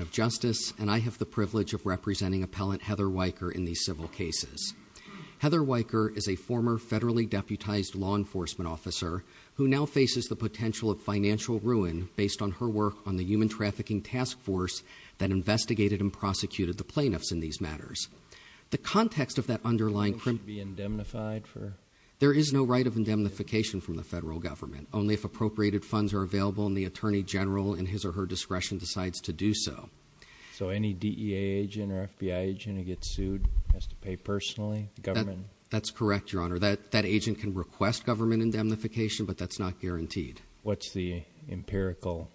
of Justice, and I have the privilege of representing appellant Heather Weyker in these civil cases. Heather Weyker is a former federally deputized law enforcement officer who now faces the potential of financial ruin based on her work on the Human Trafficking Task Force that investigated and prosecuted the plaintiffs in these matters. The context of that underlying crime… Will she be indemnified for… There is no right of indemnification from the federal government, only if appropriated funds are available and the Attorney General, in his or her discretion, decides to do so. So any DEA agent or FBI agent who gets sued has to pay personally, the government? That's correct, Your Honor. That agent can request government indemnification, but that's not guaranteed. What's the empirical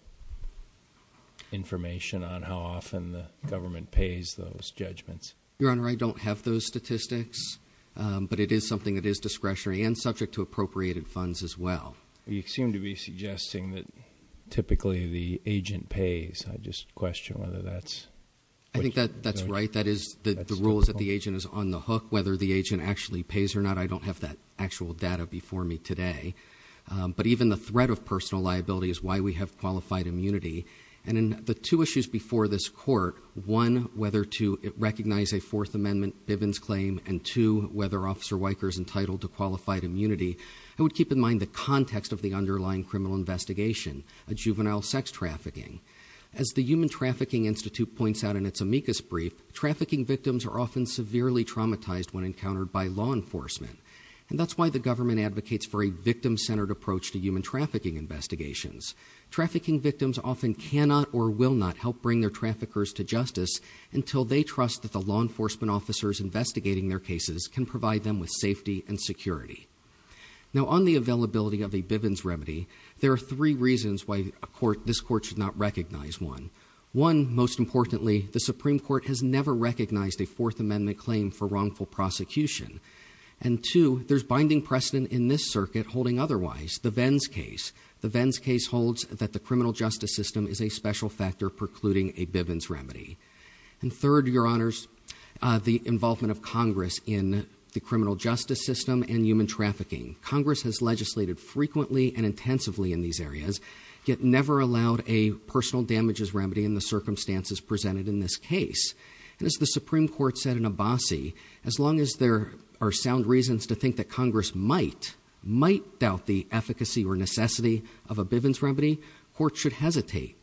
information on how often the government pays those judgments? Your Honor, I don't have those statistics, but it is something that is discretionary and subject to appropriated funds as well. You seem to be suggesting that typically the agent pays. I just question whether that's… I think that's right. That is, the rule is that the agent is on the hook. Whether the agent actually pays or not, I don't have that actual data before me today. But even the threat of personal liability is why we have qualified immunity. And in the two issues before this Court, one, whether to recognize a Fourth Amendment Bivens claim and two, whether Officer Weyker is entitled to qualified immunity, I would keep in mind the context of the underlying criminal investigation, a juvenile sex trafficking. As the Human Trafficking Institute points out in its amicus brief, trafficking victims are often severely traumatized when encountered by law enforcement, and that's why the government advocates for a victim-centered approach to human trafficking investigations. Trafficking victims often cannot or will not help bring their traffickers to justice until they trust that the law enforcement officers investigating their cases can provide them with safety and security. Now, on the availability of a Bivens remedy, there are three reasons why this Court should not recognize one. One, most importantly, the Supreme Court has never recognized a Fourth Amendment claim for wrongful prosecution. And two, there's binding precedent in this circuit holding otherwise, the Venns case. The Venns case holds that the criminal justice system is a special factor precluding a Bivens remedy. And third, Your Honors, the involvement of Congress in the criminal justice system and human trafficking. Congress has legislated frequently and intensively in these areas, yet never allowed a personal damages remedy in the circumstances presented in this case. And as the Supreme Court said in Abbasi, as long as there are sound reasons to think that Congress might, might doubt the efficacy or necessity of a Bivens remedy, courts should hesitate.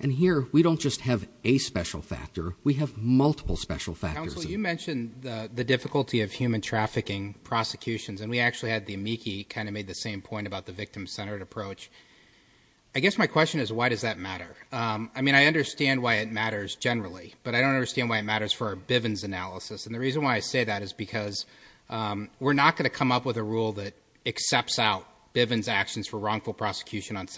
And here, we don't just have a special factor, we have multiple special factors. Counsel, you mentioned the difficulty of human trafficking prosecutions, and we actually had the amici kind of made the same point about the victim-centered approach. I guess my question is, why does that matter? I mean, I understand why it matters generally, but I don't understand why it matters for our Bivens analysis. And the reason why I say that is because we're not going to come up with a rule that accepts out Bivens actions for wrongful prosecution on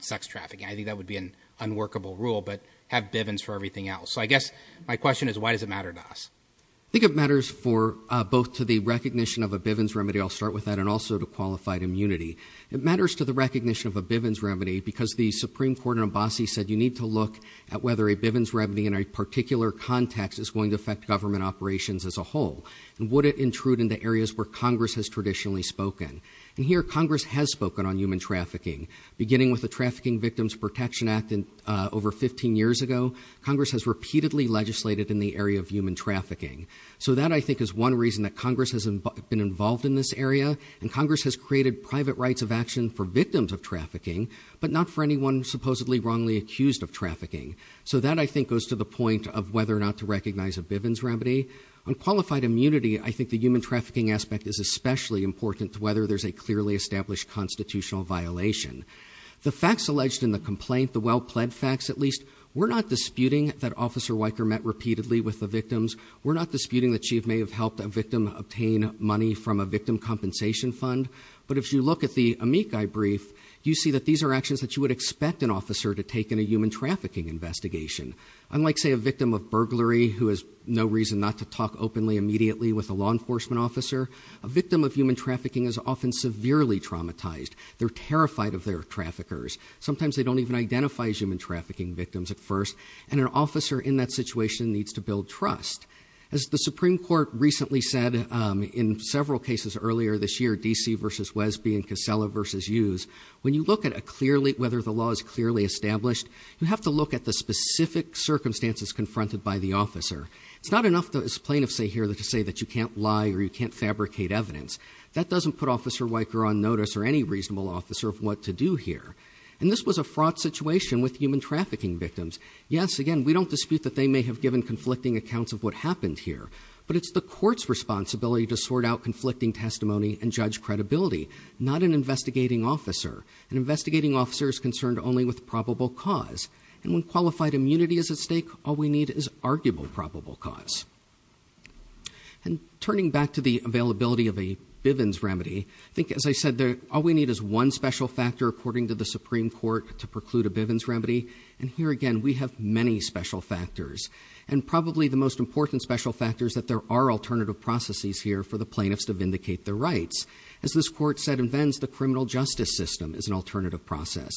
sex trafficking. I think that would be an unworkable rule, but have Bivens for everything else. So I guess my question is, why does it matter to us? I think it matters for, both to the recognition of a Bivens remedy, I'll start with that, and also to qualified immunity. It matters to the recognition of a Bivens remedy because the Supreme Court in Abbasi said you need to look at whether a Bivens remedy in a particular context is going to affect government operations as a whole, and would it intrude into areas where Congress has traditionally spoken. And here, Congress has spoken on human trafficking, beginning with the Trafficking Victims Protection Act over 15 years ago. Congress has repeatedly legislated in the area of human trafficking. So that, I think, is one reason that Congress has been involved in this area, and Congress has created private rights of action for victims of trafficking, but not for anyone supposedly wrongly accused of trafficking. So that, I think, goes to the point of whether or not to recognize a Bivens remedy. On qualified immunity, I think the human trafficking aspect is especially important to whether there's a clearly established constitutional violation. The facts alleged in the complaint, the well-pled facts at least, we're not disputing that Officer Weicker met repeatedly with the victims. We're not disputing that she may have helped a victim obtain money from a victim compensation fund, but if you look at the amici brief, you see that these are actions that you would expect an officer to take in a human trafficking investigation. Unlike, say, a victim of burglary who has no reason not to talk openly, immediately with a law enforcement officer, a victim of human trafficking is often severely traumatized. They're terrified of their traffickers. Sometimes they don't even identify human trafficking victims at first, and an officer in that situation needs to build trust. As the Supreme Court recently said in several cases earlier this year, DC versus Wesby and Casella versus Hughes, when you look at whether the law is clearly established, you have to look at the specific circumstances confronted by the officer. It's not enough, as plaintiffs say here, to say that you can't lie or you can't fabricate evidence. That doesn't put Officer Weicker on notice or any reasonable officer of what to do here. And this was a fraught situation with human trafficking victims. Yes, again, we don't dispute that they may have given conflicting accounts of what happened here. But it's the court's responsibility to sort out conflicting testimony and judge credibility, not an investigating officer. An investigating officer is concerned only with probable cause. And when qualified immunity is at stake, all we need is arguable probable cause. And turning back to the availability of a Bivens remedy, I think as I said, all we need is one special factor according to the Supreme Court to preclude a Bivens remedy. And here again, we have many special factors. And probably the most important special factor is that there are alternative processes here for the plaintiffs to vindicate their rights. As this court said in Venn's, the criminal justice system is an alternative process.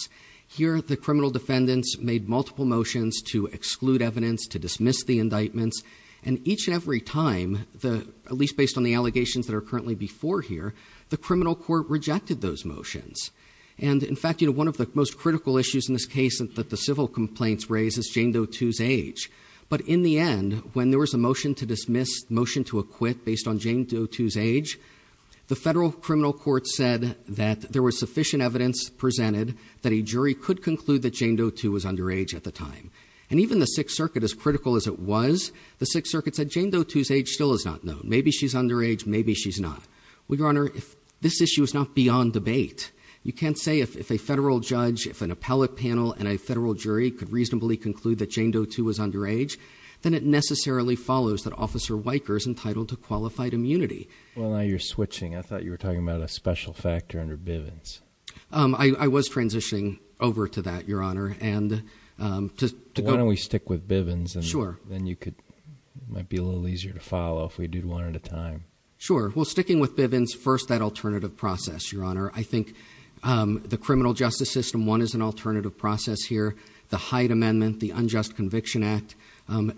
Here, the criminal defendants made multiple motions to exclude evidence, to dismiss the indictments. And each and every time, at least based on the allegations that are currently before here, the criminal court rejected those motions. And in fact, one of the most critical issues in this case that the civil complaints raise is Jane Doe II's age. But in the end, when there was a motion to dismiss, motion to acquit based on Jane Doe II's age, the federal criminal court said that there was sufficient evidence presented that a jury could conclude that Jane Doe II was underage at the time. And even the Sixth Circuit, as critical as it was, the Sixth Circuit said Jane Doe II's age still is not known. Maybe she's underage, maybe she's not. We go on her, this issue is not beyond debate. You can't say if a federal judge, if an appellate panel and a federal jury could reasonably conclude that Jane Doe II was underage, then it necessarily follows that Officer Weicker is entitled to qualified immunity. Well, now you're switching. I thought you were talking about a special factor under Bivens. I was transitioning over to that, your honor. And to- Why don't we stick with Bivens and then you could, might be a little easier to follow if we do one at a time. Sure, well sticking with Bivens, first that alternative process, your honor. I think the criminal justice system, one is an alternative process here. The Hyde Amendment, the Unjust Conviction Act,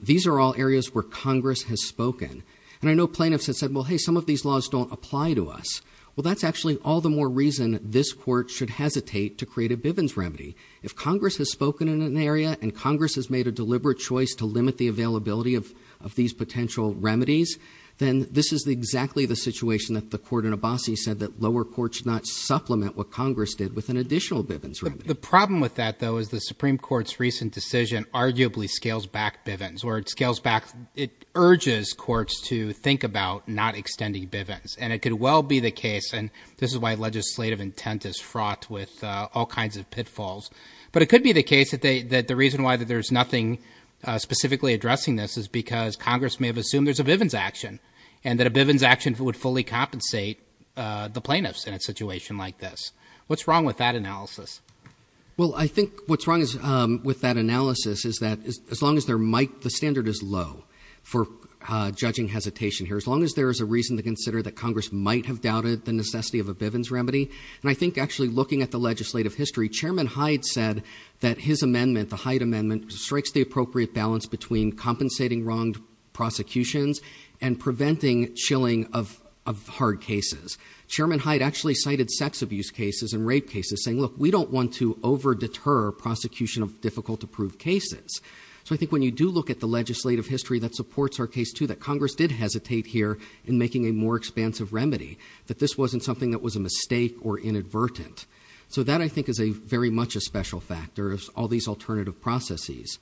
these are all areas where Congress has spoken. And I know plaintiffs have said, well hey, some of these laws don't apply to us. Well, that's actually all the more reason this court should hesitate to create a Bivens remedy. If Congress has spoken in an area and Congress has made a deliberate choice to limit the availability of these potential remedies, then this is exactly the situation that the court in Abbasi said that lower court should not supplement what Congress did with an additional Bivens remedy. The problem with that, though, is the Supreme Court's recent decision arguably scales back Bivens. Or it scales back, it urges courts to think about not extending Bivens. And it could well be the case, and this is why legislative intent is fraught with all kinds of pitfalls. But it could be the case that the reason why there's nothing specifically addressing this is because Congress may have assumed there's a Bivens action. And that a Bivens action would fully compensate the plaintiffs in a situation like this. What's wrong with that analysis? Well, I think what's wrong with that analysis is that as long as there might, the standard is low for judging hesitation here. As long as there is a reason to consider that Congress might have doubted the necessity of a Bivens remedy. And I think actually looking at the legislative history, Chairman Hyde said that his amendment, the Hyde Amendment, strikes the appropriate balance between compensating wronged prosecutions and preventing chilling of hard cases. Chairman Hyde actually cited sex abuse cases and rape cases saying, look, we don't want to over deter prosecution of difficult to prove cases. So I think when you do look at the legislative history that supports our case too, that Congress did hesitate here in making a more expansive remedy. That this wasn't something that was a mistake or inadvertent. So that I think is very much a special factor of all these alternative processes.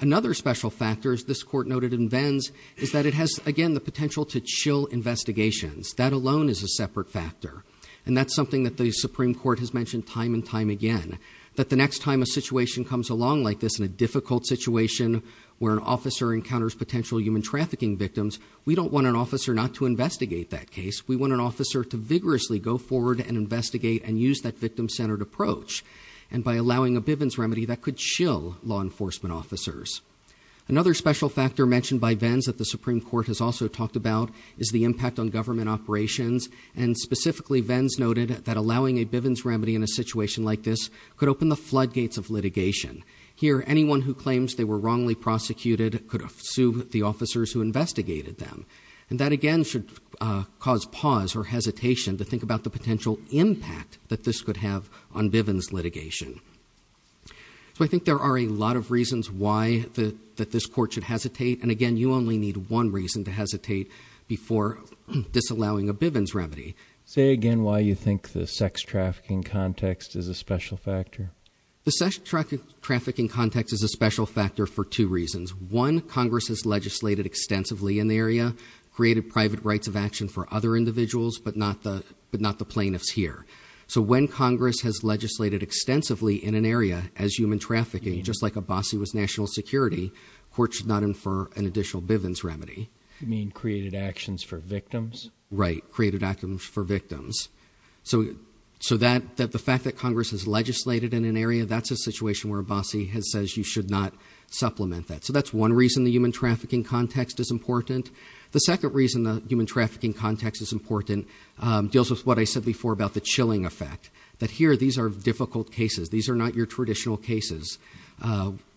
Another special factor, as this court noted in Bivens, is that it has, again, the potential to chill investigations. That alone is a separate factor. And that's something that the Supreme Court has mentioned time and time again. That the next time a situation comes along like this, in a difficult situation where an officer encounters potential human trafficking victims, we don't want an officer not to investigate that case. We want an officer to vigorously go forward and investigate and use that victim-centered approach. And by allowing a Bivens remedy, that could chill law enforcement officers. Another special factor mentioned by Venns that the Supreme Court has also talked about is the impact on government operations. And specifically, Venns noted that allowing a Bivens remedy in a situation like this could open the floodgates of litigation. Here, anyone who claims they were wrongly prosecuted could sue the officers who investigated them. And that again should cause pause or hesitation to think about the potential impact that this could have on Bivens litigation. So I think there are a lot of reasons why that this court should hesitate. And again, you only need one reason to hesitate before disallowing a Bivens remedy. Say again why you think the sex trafficking context is a special factor. The sex trafficking context is a special factor for two reasons. One, Congress has legislated extensively in the area, created private rights of action for other individuals, but not the plaintiffs here. So when Congress has legislated extensively in an area as human trafficking, just like Abbasi was national security, court should not infer an additional Bivens remedy. You mean created actions for victims? Right, created actions for victims. So the fact that Congress has legislated in an area, that's a situation where Abbasi has said you should not supplement that. So that's one reason the human trafficking context is important. The second reason the human trafficking context is important deals with what I said before about the chilling effect. That here, these are difficult cases. These are not your traditional cases,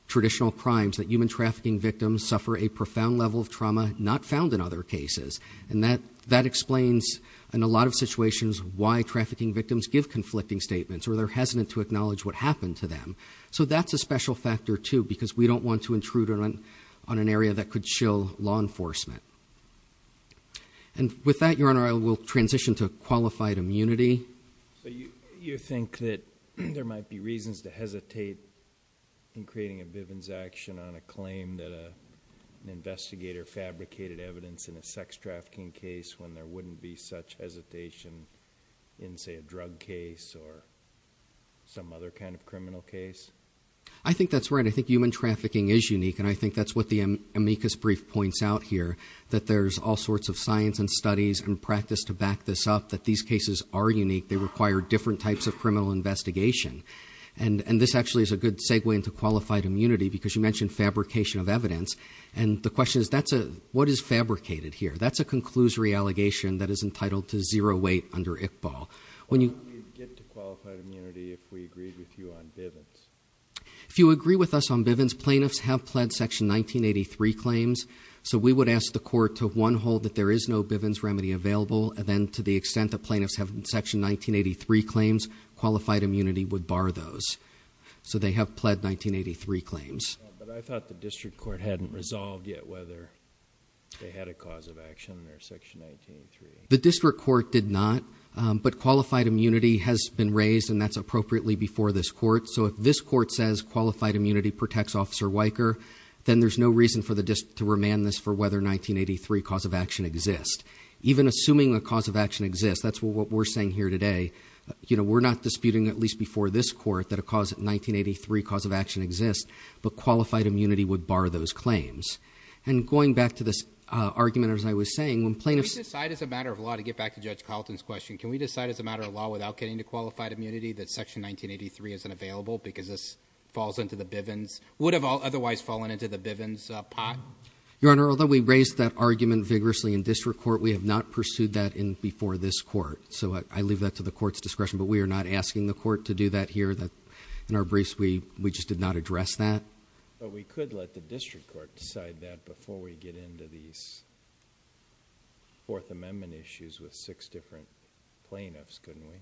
traditional crimes that human trafficking victims suffer a profound level of trauma not found in other cases. And that explains in a lot of situations why trafficking victims give conflicting statements or they're hesitant to acknowledge what happened to them. So that's a special factor too, because we don't want to intrude on an area that could chill law enforcement. And with that, your honor, I will transition to qualified immunity. So you think that there might be reasons to hesitate in creating a Bivens action on a claim that an investigator fabricated evidence in a sex trafficking case, when there wouldn't be such hesitation in say a drug case or some other kind of criminal case? I think that's right. I think human trafficking is unique, and I think that's what the amicus brief points out here. That there's all sorts of science and studies and practice to back this up, that these cases are unique. They require different types of criminal investigation. And this actually is a good segue into qualified immunity, because you mentioned fabrication of evidence. And the question is, what is fabricated here? That's a conclusory allegation that is entitled to zero weight under ICBAL. When you- Why don't we get to qualified immunity if we agreed with you on Bivens? If you agree with us on Bivens, plaintiffs have pled section 1983 claims. So we would ask the court to one hold that there is no Bivens remedy available, and then to the extent that plaintiffs have section 1983 claims, qualified immunity would bar those. So they have pled 1983 claims. But I thought the district court hadn't resolved yet whether they had a cause of action or section 1983. The district court did not, but qualified immunity has been raised, and that's appropriately before this court. So if this court says qualified immunity protects Officer Weicker, then there's no reason to remand this for whether 1983 cause of action exists. Even assuming a cause of action exists, that's what we're saying here today. We're not disputing, at least before this court, that a 1983 cause of action exists. But qualified immunity would bar those claims. And going back to this argument, as I was saying, when plaintiffs- Can we decide as a matter of law, to get back to Judge Carlton's question, can we decide as a matter of law without getting to qualified immunity, that section 1983 isn't available because this falls into the Bivens, would have otherwise fallen into the Bivens pot? Your Honor, although we raised that argument vigorously in district court, we have not pursued that before this court. So I leave that to the court's discretion, but we are not asking the court to do that here. In our briefs, we just did not address that. But we could let the district court decide that before we get into these Fourth Amendment issues with six different plaintiffs, couldn't we?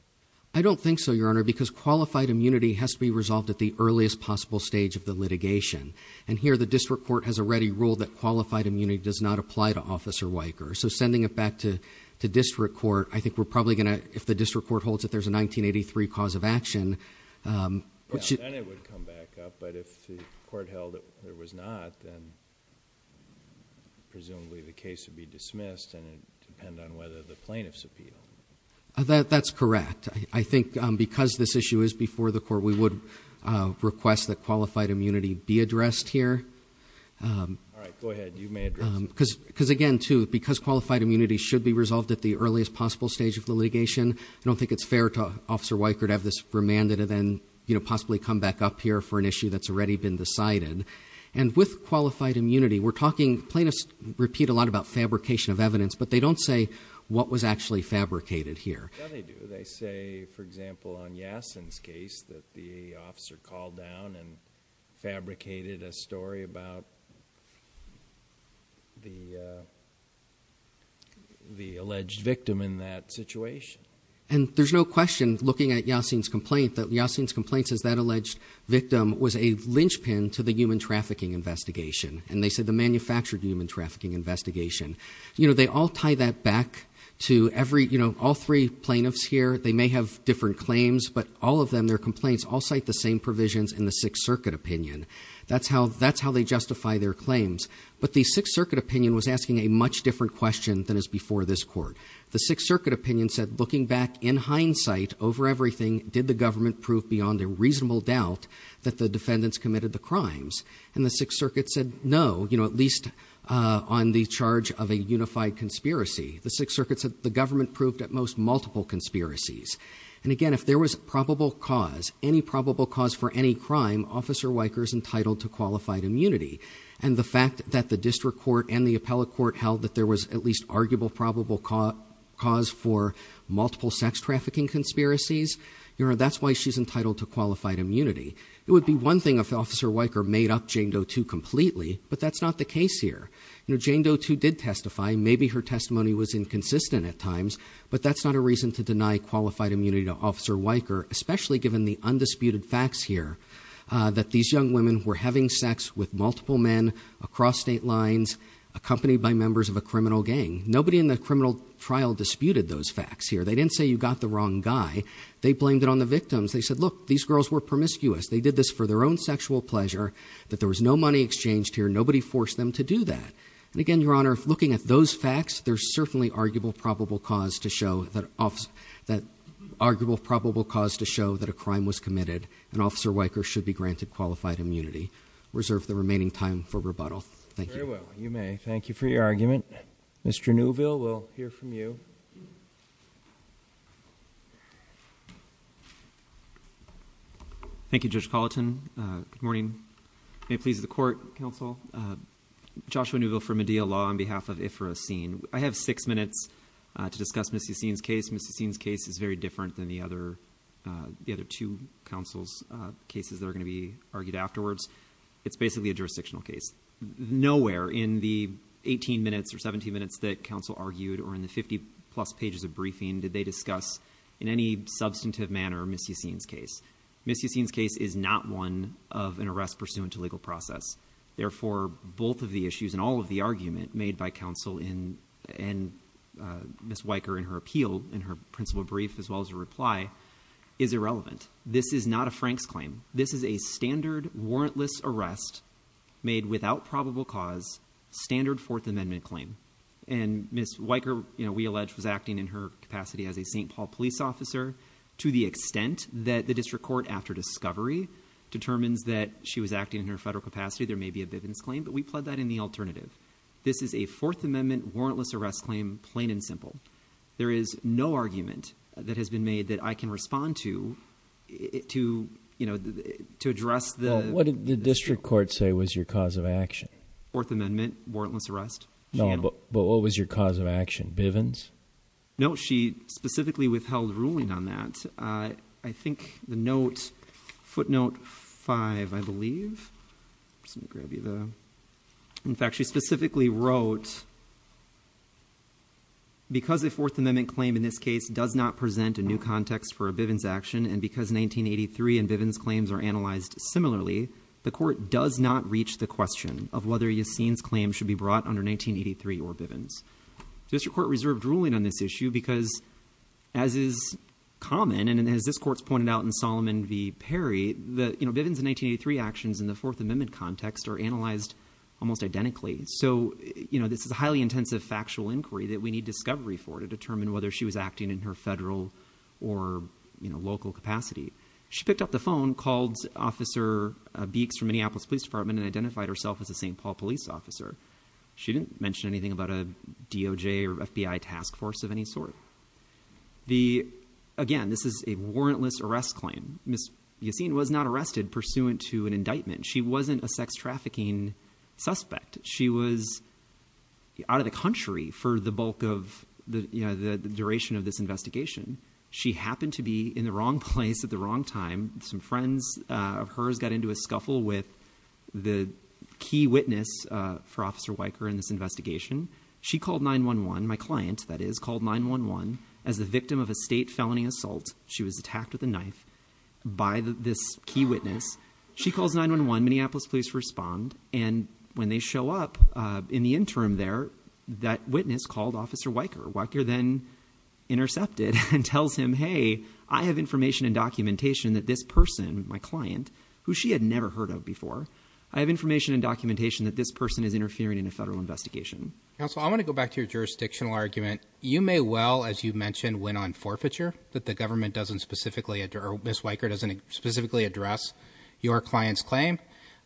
I don't think so, Your Honor, because qualified immunity has to be resolved at the earliest possible stage of the litigation. And here, the district court has already ruled that qualified immunity does not apply to Officer Weicker. So sending it back to district court, I think we're probably going to, if the district court holds that there's a 1983 cause of action. Then it would come back up, but if the court held that there was not, then presumably the case would be dismissed, and it would depend on whether the plaintiffs appeal. That's correct. I think because this issue is before the court, we would request that qualified immunity be addressed here. All right, go ahead. You may address it. Because again, too, because qualified immunity should be resolved at the earliest possible stage of the litigation, I don't think it's fair to Officer Weicker to have this remanded and then possibly come back up here for an issue that's already been decided. And with qualified immunity, we're talking, plaintiffs repeat a lot about fabrication of evidence, but they don't say what was actually fabricated here. Yeah, they do. They say, for example, on Yassen's case, that the officer called down and reported the alleged victim in that situation. And there's no question, looking at Yassen's complaint, that Yassen's complaint says that alleged victim was a linchpin to the human trafficking investigation. And they said the manufactured human trafficking investigation. They all tie that back to all three plaintiffs here. They may have different claims, but all of them, their complaints, all cite the same provisions in the Sixth Circuit opinion. That's how they justify their claims. But the Sixth Circuit opinion was asking a much different question than is before this court. The Sixth Circuit opinion said, looking back in hindsight over everything, did the government prove beyond a reasonable doubt that the defendants committed the crimes? And the Sixth Circuit said no, at least on the charge of a unified conspiracy. The Sixth Circuit said the government proved at most multiple conspiracies. And again, if there was probable cause, any probable cause for any crime, Officer Weicker's entitled to qualified immunity. And the fact that the district court and the appellate court held that there was at least arguable probable cause for multiple sex trafficking conspiracies, that's why she's entitled to qualified immunity. It would be one thing if Officer Weicker made up Jane Doe 2 completely, but that's not the case here. Jane Doe 2 did testify, maybe her testimony was inconsistent at times, but that's not a reason to deny qualified immunity to Officer Weicker. Especially given the undisputed facts here that these young women were having sex with multiple men across state lines, accompanied by members of a criminal gang. Nobody in the criminal trial disputed those facts here. They didn't say you got the wrong guy. They blamed it on the victims. They said, look, these girls were promiscuous. They did this for their own sexual pleasure. That there was no money exchanged here. Nobody forced them to do that. And again, Your Honor, looking at those facts, there's certainly arguable probable cause to show that a crime was committed, and Officer Weicker should be granted qualified immunity. Reserve the remaining time for rebuttal. Thank you. You may. Thank you for your argument. Mr. Newville, we'll hear from you. Thank you, Judge Colleton. Good morning. May it please the court, counsel, Joshua Newville for Medea Law on behalf of Ifrah Asin. I have six minutes to discuss Ms. Asin's case. Ms. Asin's case is very different than the other two counsel's cases that are going to be argued afterwards. It's basically a jurisdictional case. Nowhere in the 18 minutes or 17 minutes that counsel argued or in the 50 plus pages of briefing did they discuss in any substantive manner Ms. Asin's case. Ms. Asin's case is not one of an arrest pursuant to legal process. Therefore, both of the issues and all of the argument made by counsel and Ms. Weicker in her appeal, in her principle brief, as well as her reply, is irrelevant. This is not a Frank's claim. This is a standard warrantless arrest made without probable cause, standard Fourth Amendment claim. And Ms. Weicker, we allege, was acting in her capacity as a St. Paul police officer to the extent that the district court, after discovery, determines that she was acting in her federal capacity, there may be a Bivens claim, but we pled that in the alternative. This is a Fourth Amendment warrantless arrest claim, plain and simple. There is no argument that has been made that I can respond to to address the- Well, what did the district court say was your cause of action? Fourth Amendment warrantless arrest? No, but what was your cause of action? Bivens? No, she specifically withheld ruling on that. I think the note, footnote five, I believe, just going to grab you the. In fact, she specifically wrote, because a Fourth Amendment claim in this case does not present a new context for a Bivens action, and because 1983 and Bivens claims are analyzed similarly, the court does not reach the question of whether Yassine's claim should be brought under 1983 or Bivens. District court reserved ruling on this issue because, as is common, and as this court's pointed out in Solomon v. Perry, the, you know, Bivens and 1983 actions in the Fourth Amendment context are analyzed almost identically. So, you know, this is a highly intensive factual inquiry that we need discovery for to determine whether she was acting in her federal or, you know, local capacity. She picked up the phone, called Officer Beeks from Minneapolis Police Department and identified herself as a St. Paul police officer. She didn't mention anything about a DOJ or FBI task force of any sort. The, again, this is a warrantless arrest claim. Ms. Yassine was not arrested pursuant to an indictment. She wasn't a sex trafficking suspect. She was out of the country for the bulk of the, you know, the duration of this investigation. She happened to be in the wrong place at the wrong time. Some friends of hers got into a scuffle with the key witness for Officer Weicker in this investigation. She called 911, my client, that is, called 911 as the victim of a state felony assault. She was attacked with a knife by this key witness. She calls 911. Minneapolis Police respond. And when they show up in the interim there, that witness called Officer Weicker. Weicker then intercepted and tells him, hey, I have information and documentation that this person, my client, who she had never heard of before, I have information and documentation that this person is interfering in a federal investigation. Counsel, I want to go back to your jurisdictional argument. You may well, as you mentioned, went on forfeiture that the government doesn't specifically, or Ms. Weicker doesn't specifically address your client's claim.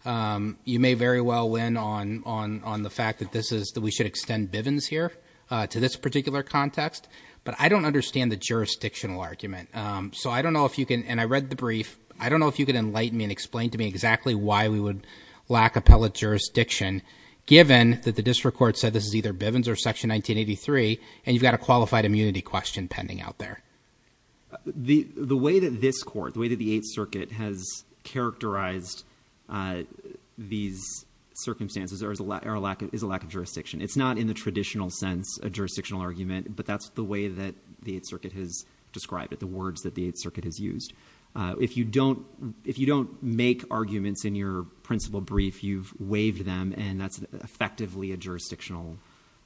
You may very well win on the fact that this is, that we should extend Bivens here to this particular context. But I don't understand the jurisdictional argument. So I don't know if you can, and I read the brief, I don't know if you can enlighten me and explain to me exactly why we would lack appellate jurisdiction, given that the district court said this is either Bivens or Section 1983, and you've got a qualified immunity question pending out there. The way that this court, the way that the Eighth Circuit has characterized these circumstances is a lack of jurisdiction. It's not in the traditional sense a jurisdictional argument, but that's the way that the Eighth Circuit has described it, the words that the Eighth Circuit has used. If you don't make arguments in your principal brief, you've waived them, and that's effectively a jurisdictional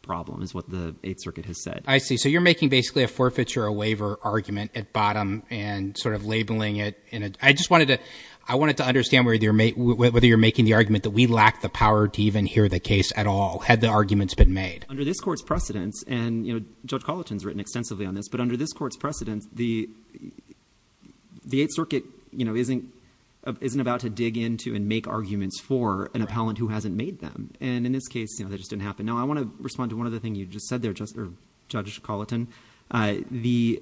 problem, is what the Eighth Circuit has said. I see. So you're making basically a forfeiture or waiver argument at bottom and sort of labeling it in a, I just wanted to, I wanted to understand whether you're making the argument that we lack the power to even hear the case at all, had the arguments been made. Under this court's precedents, and Judge Coliton's written extensively on this, but under this court's precedents, the Eighth Circuit isn't about to dig into and make arguments for an appellant who hasn't made them. And in this case, that just didn't happen. Now, I want to respond to one other thing you just said there, Judge Coliton. The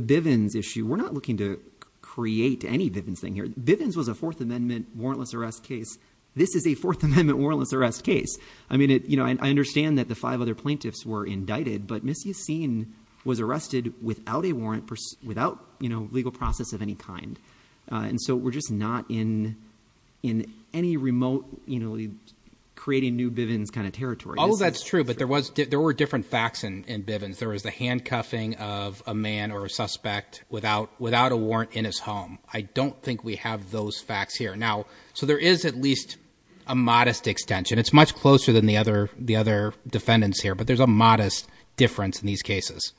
Bivens issue, we're not looking to create any Bivens thing here. Bivens was a Fourth Amendment warrantless arrest case. This is a Fourth Amendment warrantless arrest case. I mean, you know, I understand that the five other plaintiffs were indicted, but Ms. Yacine was arrested without a warrant, without, you know, legal process of any kind. And so we're just not in, in any remote, you know, creating new Bivens kind of territory. Oh, that's true. But there was, there were different facts in Bivens. There was the handcuffing of a man or a suspect without, without a warrant in his home. I don't think we have those facts here. Now, so there is at least a modest extension. It's much closer than the other, the other defendants here, but there's a modest difference in these cases.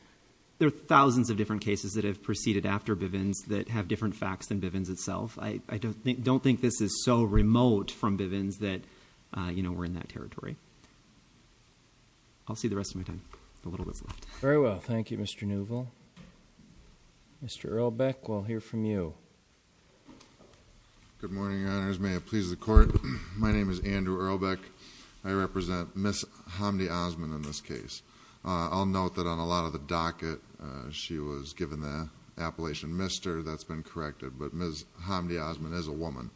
There are thousands of different cases that have proceeded after Bivens that have different facts than Bivens itself. I don't think, don't think this is so remote from Bivens that, you know, we're in that territory. I'll see the rest of my time. The little bit's left. Very well. Thank you, Mr. Neuvel. Mr. Ehrlbeck, we'll hear from you. Good morning, Your Honors. May it please the Court. My name is Andrew Ehrlbeck. I represent Ms. Hamdi Osman in this case. I'll note that on a lot of the docket, she was given the appellation Mr. That's been corrected, but Ms. Hamdi Osman is a woman.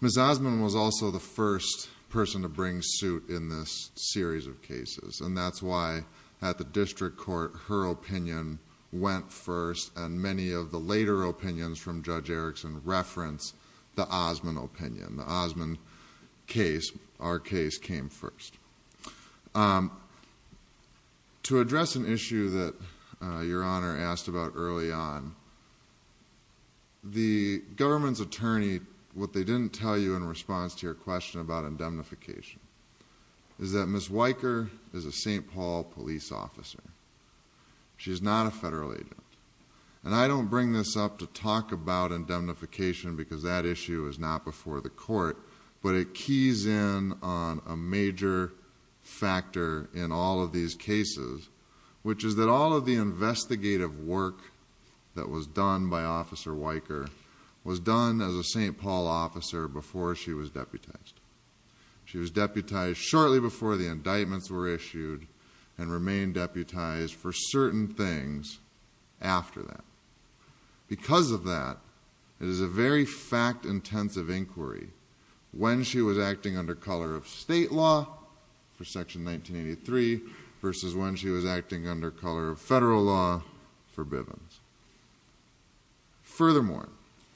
Ms. Osman was also the first person to bring suit in this series of cases, and that's why at the District Court, her opinion went first, and many of the later opinions from Judge Erickson reference the Osman opinion. The Osman case, our case, came first. To address an issue that Your Honor asked about early on, the government's attorney, what they didn't tell you in response to your question about indemnification, is that Ms. Weicker is a St. Paul police officer. She's not a federal agent, and I don't bring this up to talk about indemnification because that issue is not before the Court, but it keys in on a major factor in all of these cases, which is that all of the investigative work that was done by Officer Weicker was done as a St. Paul officer before she was deputized. She was deputized shortly before the indictments were issued and remained deputized for certain things after that. Because of that, it is a very fact-intensive inquiry when she was acting under color of state law for Section 1983 versus when she was acting under color of federal law for Bivens. Furthermore...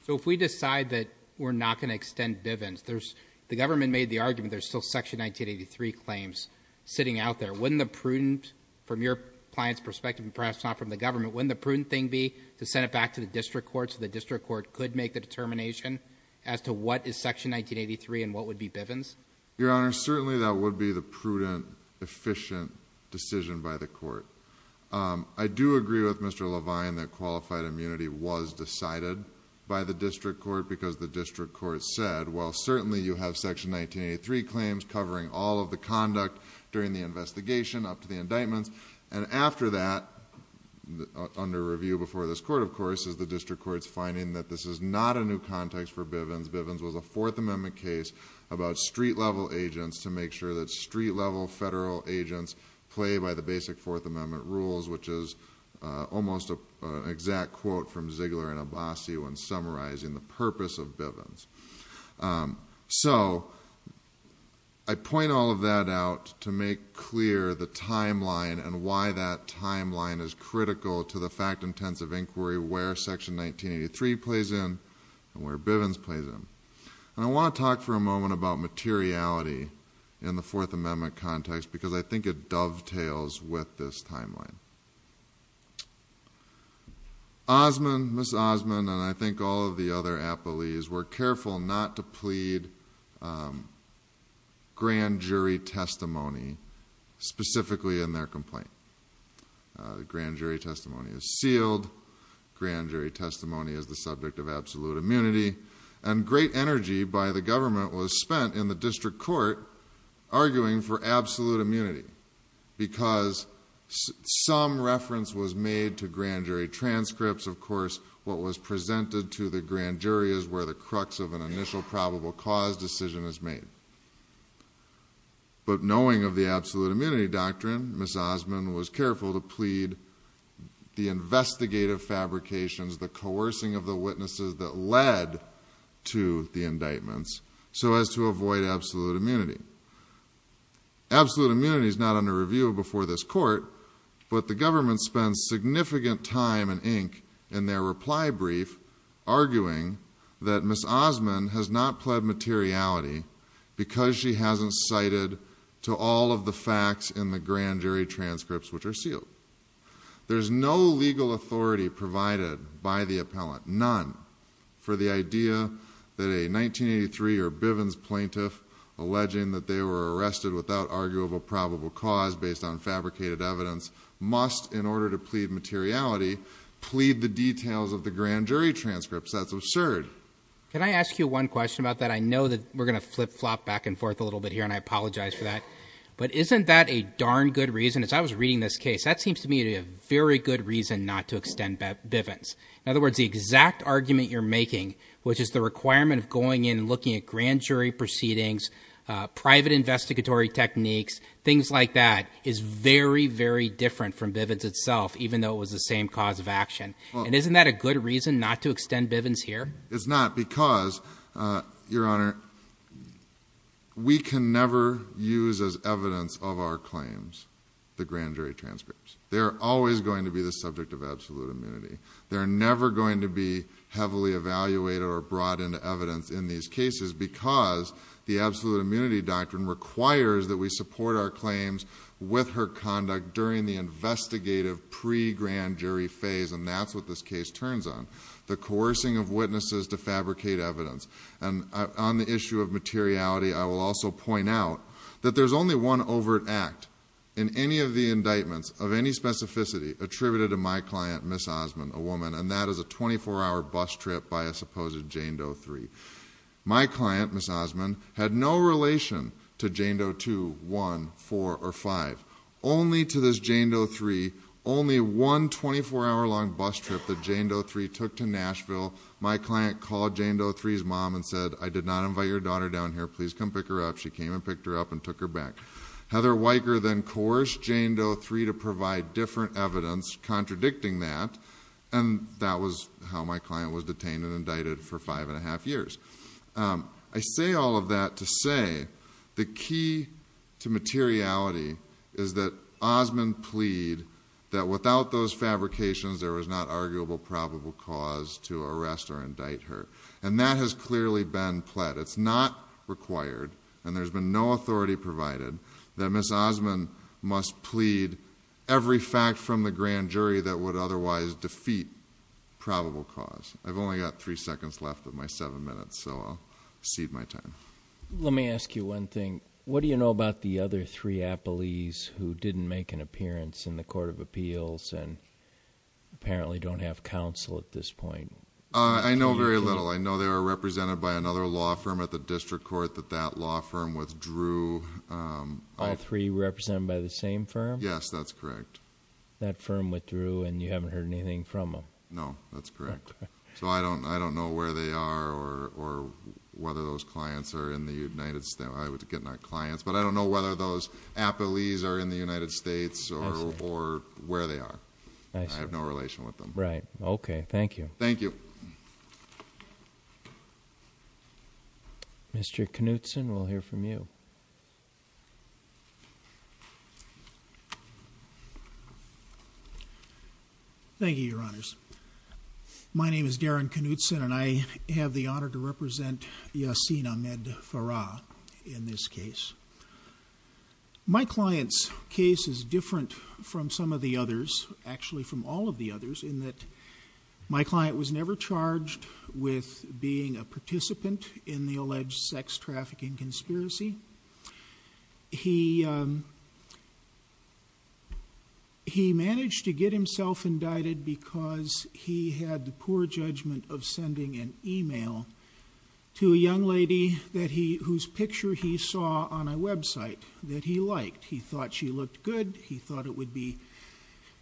So if we decide that we're not going to extend Bivens, there's... the government made the argument there's still Section 1983 claims sitting out there. Wouldn't the prudent, from your client's perspective and perhaps not from the government, wouldn't the prudent thing be to send it back to the District Court so the District Court could make the determination as to what is Section 1983 and what would be Bivens? Your Honor, certainly that would be the prudent, efficient decision by the Court. I do agree with Mr. Levine that qualified immunity was decided by the District Court because the District Court said, well, certainly you have Section 1983 claims covering all of the conduct during the investigation up to the indictments. After that, under review before this Court, of course, is the District Court's finding that this is not a new context for Bivens. Bivens was a Fourth Amendment case about street-level agents to make sure that street-level federal agents play by the basic Fourth Amendment rules, which is almost an exact quote from Ziegler and Abbasi when summarizing the purpose of Bivens. So, I point all of that out to make clear the timeline and why that timeline is critical to the fact-intensive inquiry where Section 1983 plays in and where Bivens plays in. And I want to talk for a moment about materiality in the Fourth Amendment context because I think it dovetails with this timeline. Osmond, Ms. Osmond, and I think all of the other appellees were careful not to plead grand jury testimony specifically in their complaint. Grand jury testimony is sealed. Grand jury testimony is the subject of absolute immunity. And great energy by the government was spent in the District Court arguing for absolute immunity. Some reference was made to grand jury transcripts. Of course, what was presented to the grand jury is where the crux of an initial probable cause decision is made. But knowing of the absolute immunity doctrine, Ms. Osmond was careful to plead the investigative fabrications, the coercing of the witnesses that led to the indictments so as to avoid absolute immunity. Absolute immunity is not under review before this court, but the government spends significant time and ink in their reply brief arguing that Ms. Osmond has not pled materiality because she hasn't cited to all of the facts in the grand jury transcripts which are sealed. There's no legal authority provided by the appellant, none, for the idea that a 1983 or Bivens plaintiff alleging that they were arrested without arguable probable cause based on fabricated evidence must, in order to plead materiality, plead the details of the grand jury transcripts. That's absurd. Can I ask you one question about that? I know that we're going to flip flop back and forth a little bit here, and I apologize for that. But isn't that a darn good reason? As I was reading this case, that seems to me to be a very good reason not to extend Bivens. In other words, the exact argument you're making, which is the requirement of going in and looking at grand jury proceedings, private investigatory techniques, things like that, is very, very different from Bivens itself, even though it was the same cause of action. And isn't that a good reason not to extend Bivens here? It's not because, Your Honor, we can never use as evidence of our claims the grand jury transcripts. They're always going to be the subject of absolute immunity. They're never going to be heavily evaluated or brought into evidence in these cases because the absolute immunity doctrine requires that we support our claims with her conduct during the investigative pre-grand jury phase, and that's what this case turns on, the coercing of witnesses to fabricate evidence. And on the issue of materiality, I will also point out that there's only one overt act in any of the indictments of any specificity attributed to my client, Ms. Osmond, a woman, and that is a 24-hour bus trip by a supposed Jane Doe 3. My client, Ms. Osmond, had no relation to Jane Doe 2, 1, 4, or 5. Only to this Jane Doe 3, only one 24-hour-long bus trip that Jane Doe 3 took to Nashville, my client called Jane Doe 3's mom and said, I did not invite your daughter down here. Please come pick her up. She came and picked her up and took her back. Heather Weicker then coerced Jane Doe 3 to provide different evidence contradicting that, and that was how my client was detained and indicted for five and a half years. I say all of that to say the key to materiality is that Osmond pleaded that without those fabrications, there was not arguable probable cause to arrest or indict her. And that has clearly been pled. It's not required, and there's been no authority provided, that Ms. Osmond must plead every fact from the grand jury that would otherwise defeat probable cause. I've only got three seconds left of my seven minutes, so I'll cede my time. Let me ask you one thing. What do you know about the other three appellees who didn't make an appearance in the Court of Appeals and apparently don't have counsel at this point? I know very little. I know they are represented by another law firm at the district court that that law firm withdrew. All three represented by the same firm? Yes, that's correct. That firm withdrew, and you haven't heard anything from them? No, that's correct. So I don't know where they are or whether those clients are in the United States. I was getting our clients, but I don't know whether those appellees are in the United States or where they are. I have no relation with them. Right. Okay. Thank you. Thank you. Mr. Knutson, we'll hear from you. Thank you, Your Honors. My name is Darren Knutson, and I have the honor to represent Yasin Ahmed Farah in this case. My client's case is different from some of the others, actually from all of the others, in that my client was never charged with being a participant in the alleged sex trafficking conspiracy. He managed to get himself indicted because he had the poor judgment of sending an email to a young lady whose picture he saw on a website that he liked. He thought she looked good. He thought it would be,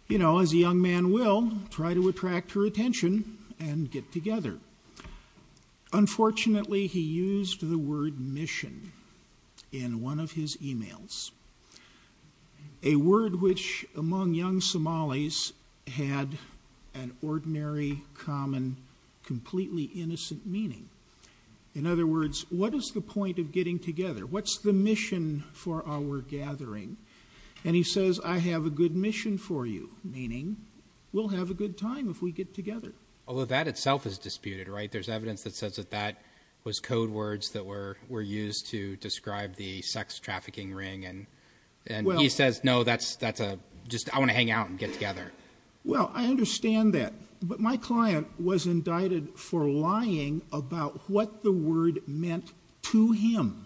you know, as a young man will try to attract her attention and get together. Unfortunately, he used the word mission in one of his emails, a word which among young Somalis had an ordinary, common, completely innocent meaning. In other words, what is the point of getting together? What's the mission for our gathering? And he says, I have a good mission for you, meaning we'll have a good time if we get together. Although that itself is disputed, right? There's evidence that says that that was code words that were used to describe the sex trafficking ring, and he says, no, that's just I want to hang out and get together. Well, I understand that. But my client was indicted for lying about what the word meant to him,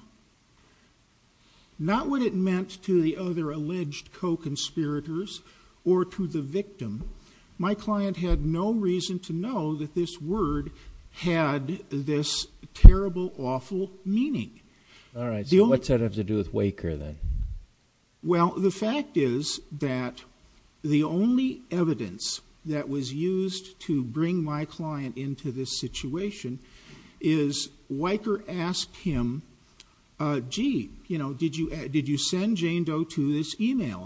not what it meant to the other alleged co-conspirators or to the victim. My client had no reason to know that this word had this terrible, awful meaning. All right. So what's that have to do with Waker then? Well, the fact is that the only evidence that was used to bring my client into this email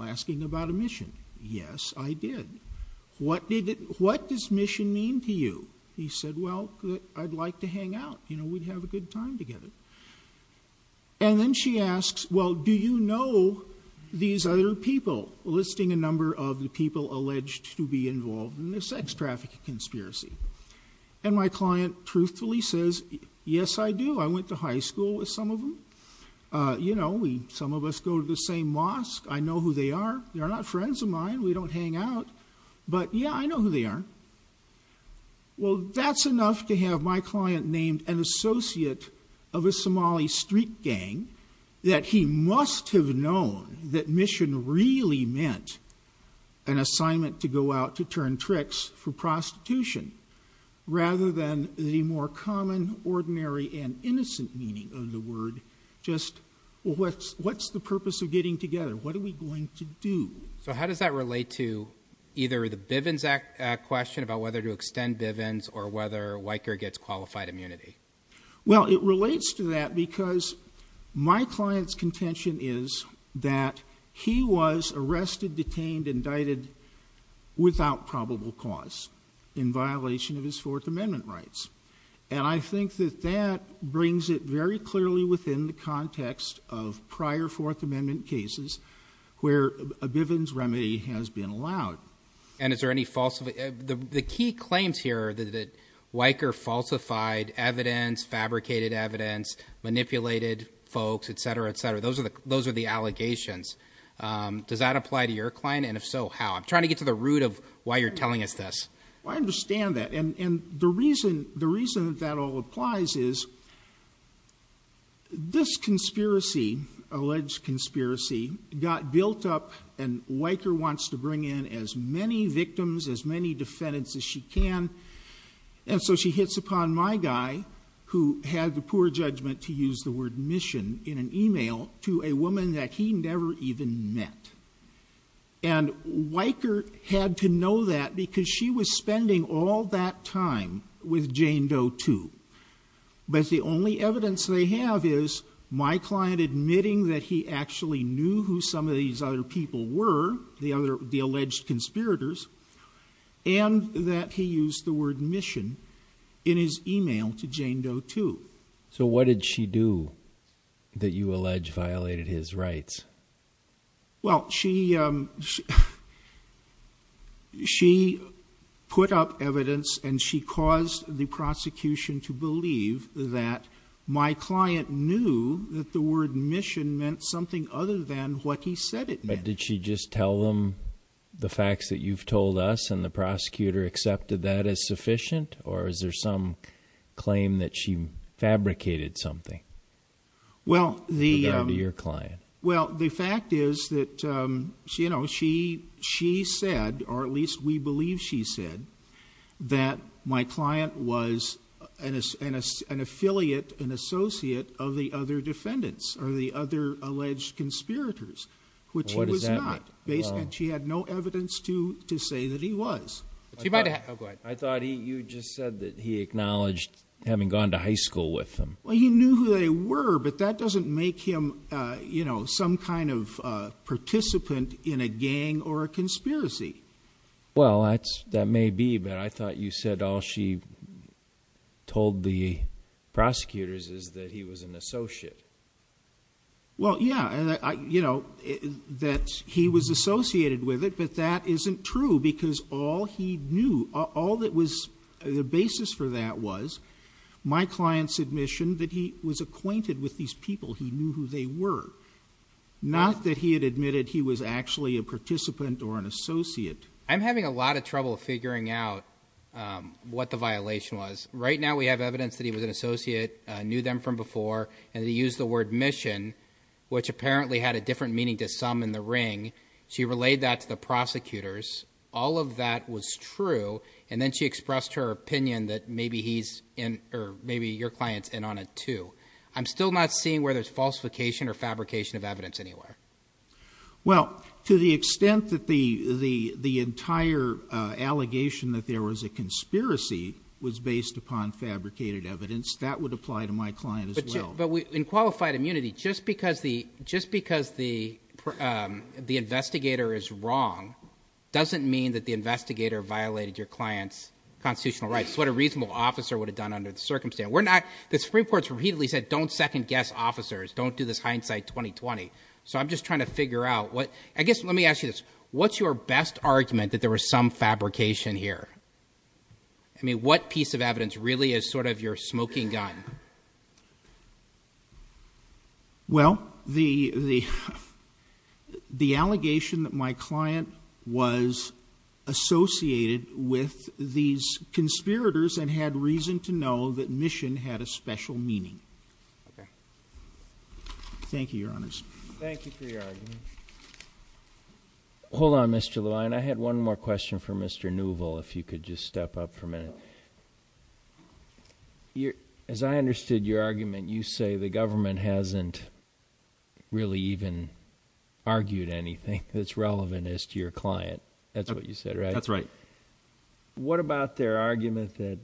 asking about a mission, yes, I did. What does mission mean to you? He said, well, I'd like to hang out. You know, we'd have a good time together. And then she asks, well, do you know these other people? Listing a number of the people alleged to be involved in the sex trafficking conspiracy. And my client truthfully says, yes, I do. I went to high school with some of them. You know, some of us go to the same mosque. I know who they are. They're not friends of mine. We don't hang out. But yeah, I know who they are. Well, that's enough to have my client named an associate of a Somali street gang that he must have known that mission really meant an assignment to go out to turn tricks for Well, what's the purpose of getting together? What are we going to do? So how does that relate to either the Bivens Act question about whether to extend Bivens or whether Weicker gets qualified immunity? Well, it relates to that because my client's contention is that he was arrested, detained, indicted without probable cause in violation of his Fourth Amendment rights. And I think that that brings it very clearly within the context of prior Fourth Amendment cases where a Bivens remedy has been allowed. And is there any false the key claims here that Weicker falsified evidence, fabricated evidence, manipulated folks, et cetera, et cetera. Those are the those are the allegations. Does that apply to your client? And if so, how? I'm trying to get to the root of why you're telling us this. I understand that. And the reason the reason that all applies is. This conspiracy alleged conspiracy got built up and Weicker wants to bring in as many victims, as many defendants as she can. And so she hits upon my guy who had the poor judgment to use the word mission in an email to a woman that he never even met. And Weicker had to know that because she was spending all that time with Jane Doe, too. But the only evidence they have is my client admitting that he actually knew who some of these other people were, the other the alleged conspirators, and that he used the word mission in his email to Jane Doe, too. So what did she do that you allege violated his rights? Well, she she put up evidence and she caused the prosecution to believe that my client knew that the word mission meant something other than what he said it meant. But did she just tell them the facts that you've told us and the prosecutor accepted that as sufficient? Or is there some claim that she fabricated something? Well, the your client. Well, the fact is that, you know, she she said, or at least we believe she said that my client was an an affiliate, an associate of the other defendants or the other alleged conspirators, which was not based. And she had no evidence to to say that he was. I thought you just said that he acknowledged having gone to high school with him. He knew who they were, but that doesn't make him, you know, some kind of participant in a gang or a conspiracy. Well, that's that may be. But I thought you said all she told the prosecutors is that he was an associate. Well, yeah, you know that he was associated with it, but that isn't true, because all he knew, all that was the basis for that was my client's admission that he was acquainted with these people. He knew who they were, not that he had admitted he was actually a participant or an associate. I'm having a lot of trouble figuring out what the violation was. Right now, we have evidence that he was an associate, knew them from before, and he used the word mission, which apparently had a different meaning to some in the ring. She relayed that to the prosecutors. All of that was true. And then she expressed her opinion that maybe he's in or maybe your client's in on it, too. I'm still not seeing where there's falsification or fabrication of evidence anywhere. Well, to the extent that the entire allegation that there was a conspiracy was based upon fabricated evidence, that would apply to my client as well. In qualified immunity, just because the investigator is wrong doesn't mean that the investigator violated your client's constitutional rights. What a reasonable officer would have done under the circumstance. The Supreme Court's repeatedly said, don't second-guess officers. Don't do this hindsight 2020. So I'm just trying to figure out what, I guess, let me ask you this. What's your best argument that there was some fabrication here? I mean, what piece of evidence really is sort of your smoking gun? Well, the allegation that my client was associated with these conspirators and had reason to know that mission had a special meaning. Thank you, Your Honors. Thank you for your argument. Hold on, Mr. Levine. I had one more question for Mr. Neuvel, if you could just step up for a minute. Well, as I understood your argument, you say the government hasn't really even argued anything that's relevant as to your client. That's what you said, right? That's right. What about their argument that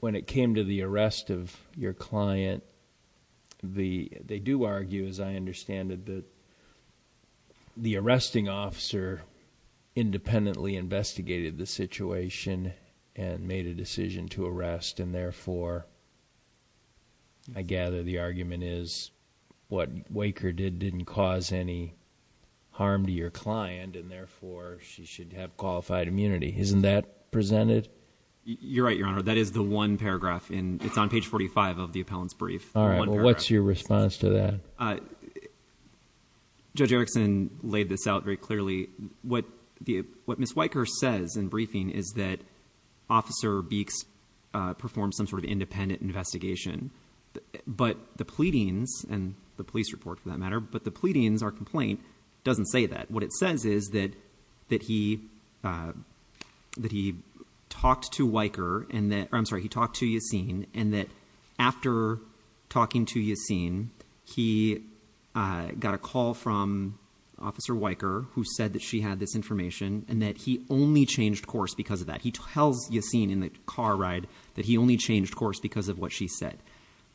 when it came to the arrest of your client, they do argue, as I understand it, that the arresting officer independently investigated the situation and made a decision to arrest, and therefore, I gather the argument is what Waker did didn't cause any harm to your client, and therefore, she should have qualified immunity. Isn't that presented? You're right, Your Honor. That is the one paragraph. It's on page 45 of the appellant's brief. All right. What's your response to that? Well, Judge Erickson laid this out very clearly. What Ms. Waker says in briefing is that Officer Beeks performed some sort of independent investigation, but the pleadings, and the police report for that matter, but the pleadings, our complaint, doesn't say that. What it says is that he talked to Waker, or I'm sorry, he talked to Yassin, and that talking to Yassin, he got a call from Officer Waker who said that she had this information, and that he only changed course because of that. He tells Yassin in the car ride that he only changed course because of what she said.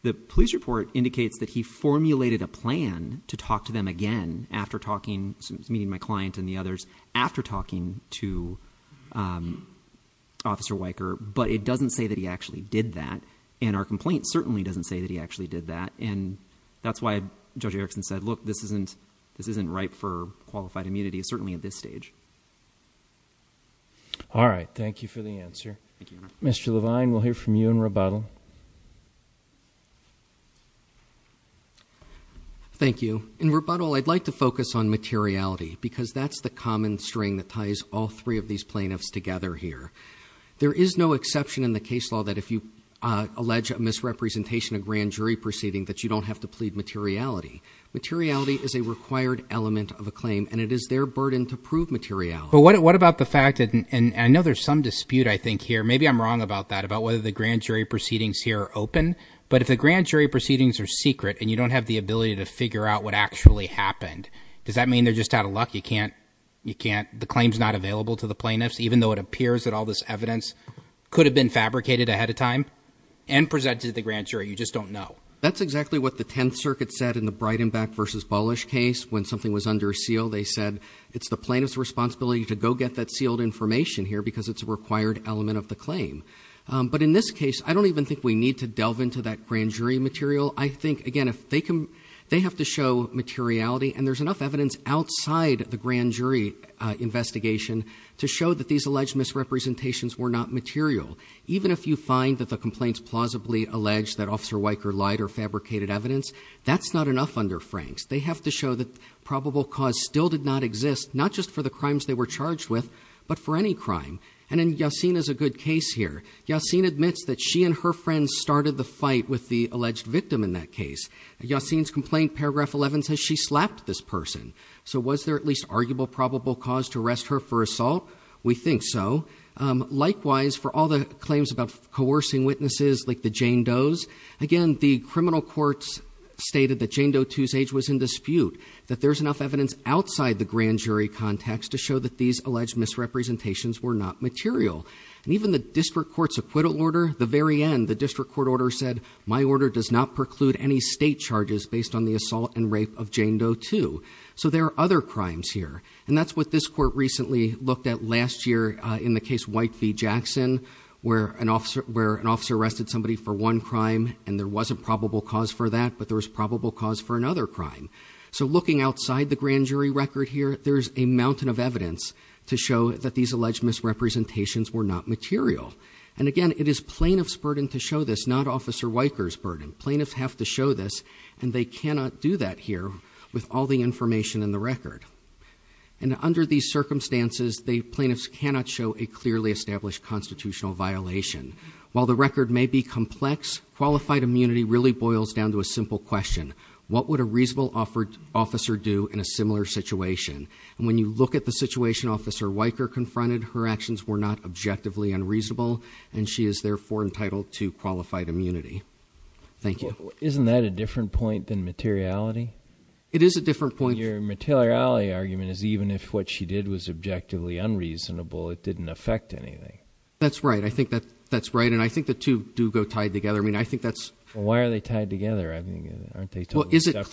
The police report indicates that he formulated a plan to talk to them again after talking, meeting my client and the others, after talking to Officer Waker, but it doesn't say that he actually did that. And our complaint certainly doesn't say that he actually did that. And that's why Judge Erickson said, look, this isn't ripe for qualified immunity, certainly at this stage. All right. Thank you for the answer. Mr. Levine, we'll hear from you in rebuttal. Thank you. In rebuttal, I'd like to focus on materiality, because that's the common string that ties all three of these plaintiffs together here. There is no exception in the case law that if you allege a misrepresentation of grand jury proceeding, that you don't have to plead materiality. Materiality is a required element of a claim, and it is their burden to prove materiality. But what about the fact that, and I know there's some dispute, I think, here. Maybe I'm wrong about that, about whether the grand jury proceedings here are open. But if the grand jury proceedings are secret, and you don't have the ability to figure out what actually happened, does that mean they're just out of luck? You can't, you can't, the claim's not available to the plaintiffs, even though it appears that all this evidence could have been fabricated ahead of time, and presented to the grand jury. You just don't know. That's exactly what the Tenth Circuit said in the Breidenbach v. Bullish case, when something was under seal. They said, it's the plaintiff's responsibility to go get that sealed information here, because it's a required element of the claim. But in this case, I don't even think we need to delve into that grand jury material. I think, again, if they can, they have to show materiality, and there's enough evidence outside the grand jury investigation to show that these alleged misrepresentations were not material. Even if you find that the complaints plausibly allege that Officer Weicker lied or fabricated evidence, that's not enough under Franks. They have to show that probable cause still did not exist, not just for the crimes they were charged with, but for any crime. And then Yacine is a good case here. Yacine admits that she and her friends started the fight with the alleged victim in that case. Yacine's complaint, paragraph 11, says she slapped this person. Was there at least arguable probable cause to arrest her for assault? We think so. Likewise, for all the claims about coercing witnesses like the Jane Doe's, again, the criminal courts stated that Jane Doe 2's age was in dispute, that there's enough evidence outside the grand jury context to show that these alleged misrepresentations were not material. And even the district court's acquittal order, the very end, the district court order said, my order does not preclude any state charges based on the assault and rape of Jane Doe 2. So there are other crimes here. And that's what this court recently looked at last year in the case White v. Jackson, where an officer arrested somebody for one crime, and there was a probable cause for that, but there was probable cause for another crime. So looking outside the grand jury record here, there's a mountain of evidence to show that these alleged misrepresentations were not material. And again, it is plaintiff's burden to show this, not Officer Weicker's burden. Plaintiffs have to show this, and they cannot do that here with all the information in the record. And under these circumstances, the plaintiffs cannot show a clearly established constitutional violation. While the record may be complex, qualified immunity really boils down to a simple question, what would a reasonable officer do in a similar situation? And when you look at the situation Officer Weicker confronted, her actions were not objectively unreasonable, and she is therefore entitled to qualified immunity. Thank you. Isn't that a different point than materiality? It is a different point. Your materiality argument is even if what she did was objectively unreasonable, it didn't affect anything. That's right. I think that's right. And I think the two do go tied together. I mean, I think that's- Why are they tied together? I mean, aren't they totally separate? Is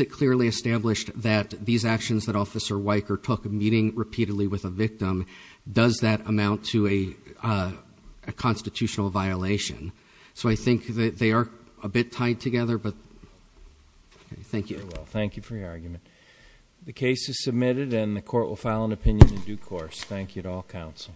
it clearly established that these actions that Officer Weicker took, meeting repeatedly with a victim, does that amount to a constitutional violation? So I think that they are a bit tied together, but thank you. Very well. Thank you for your argument. The case is submitted and the court will file an opinion in due course. Thank you to all counsel.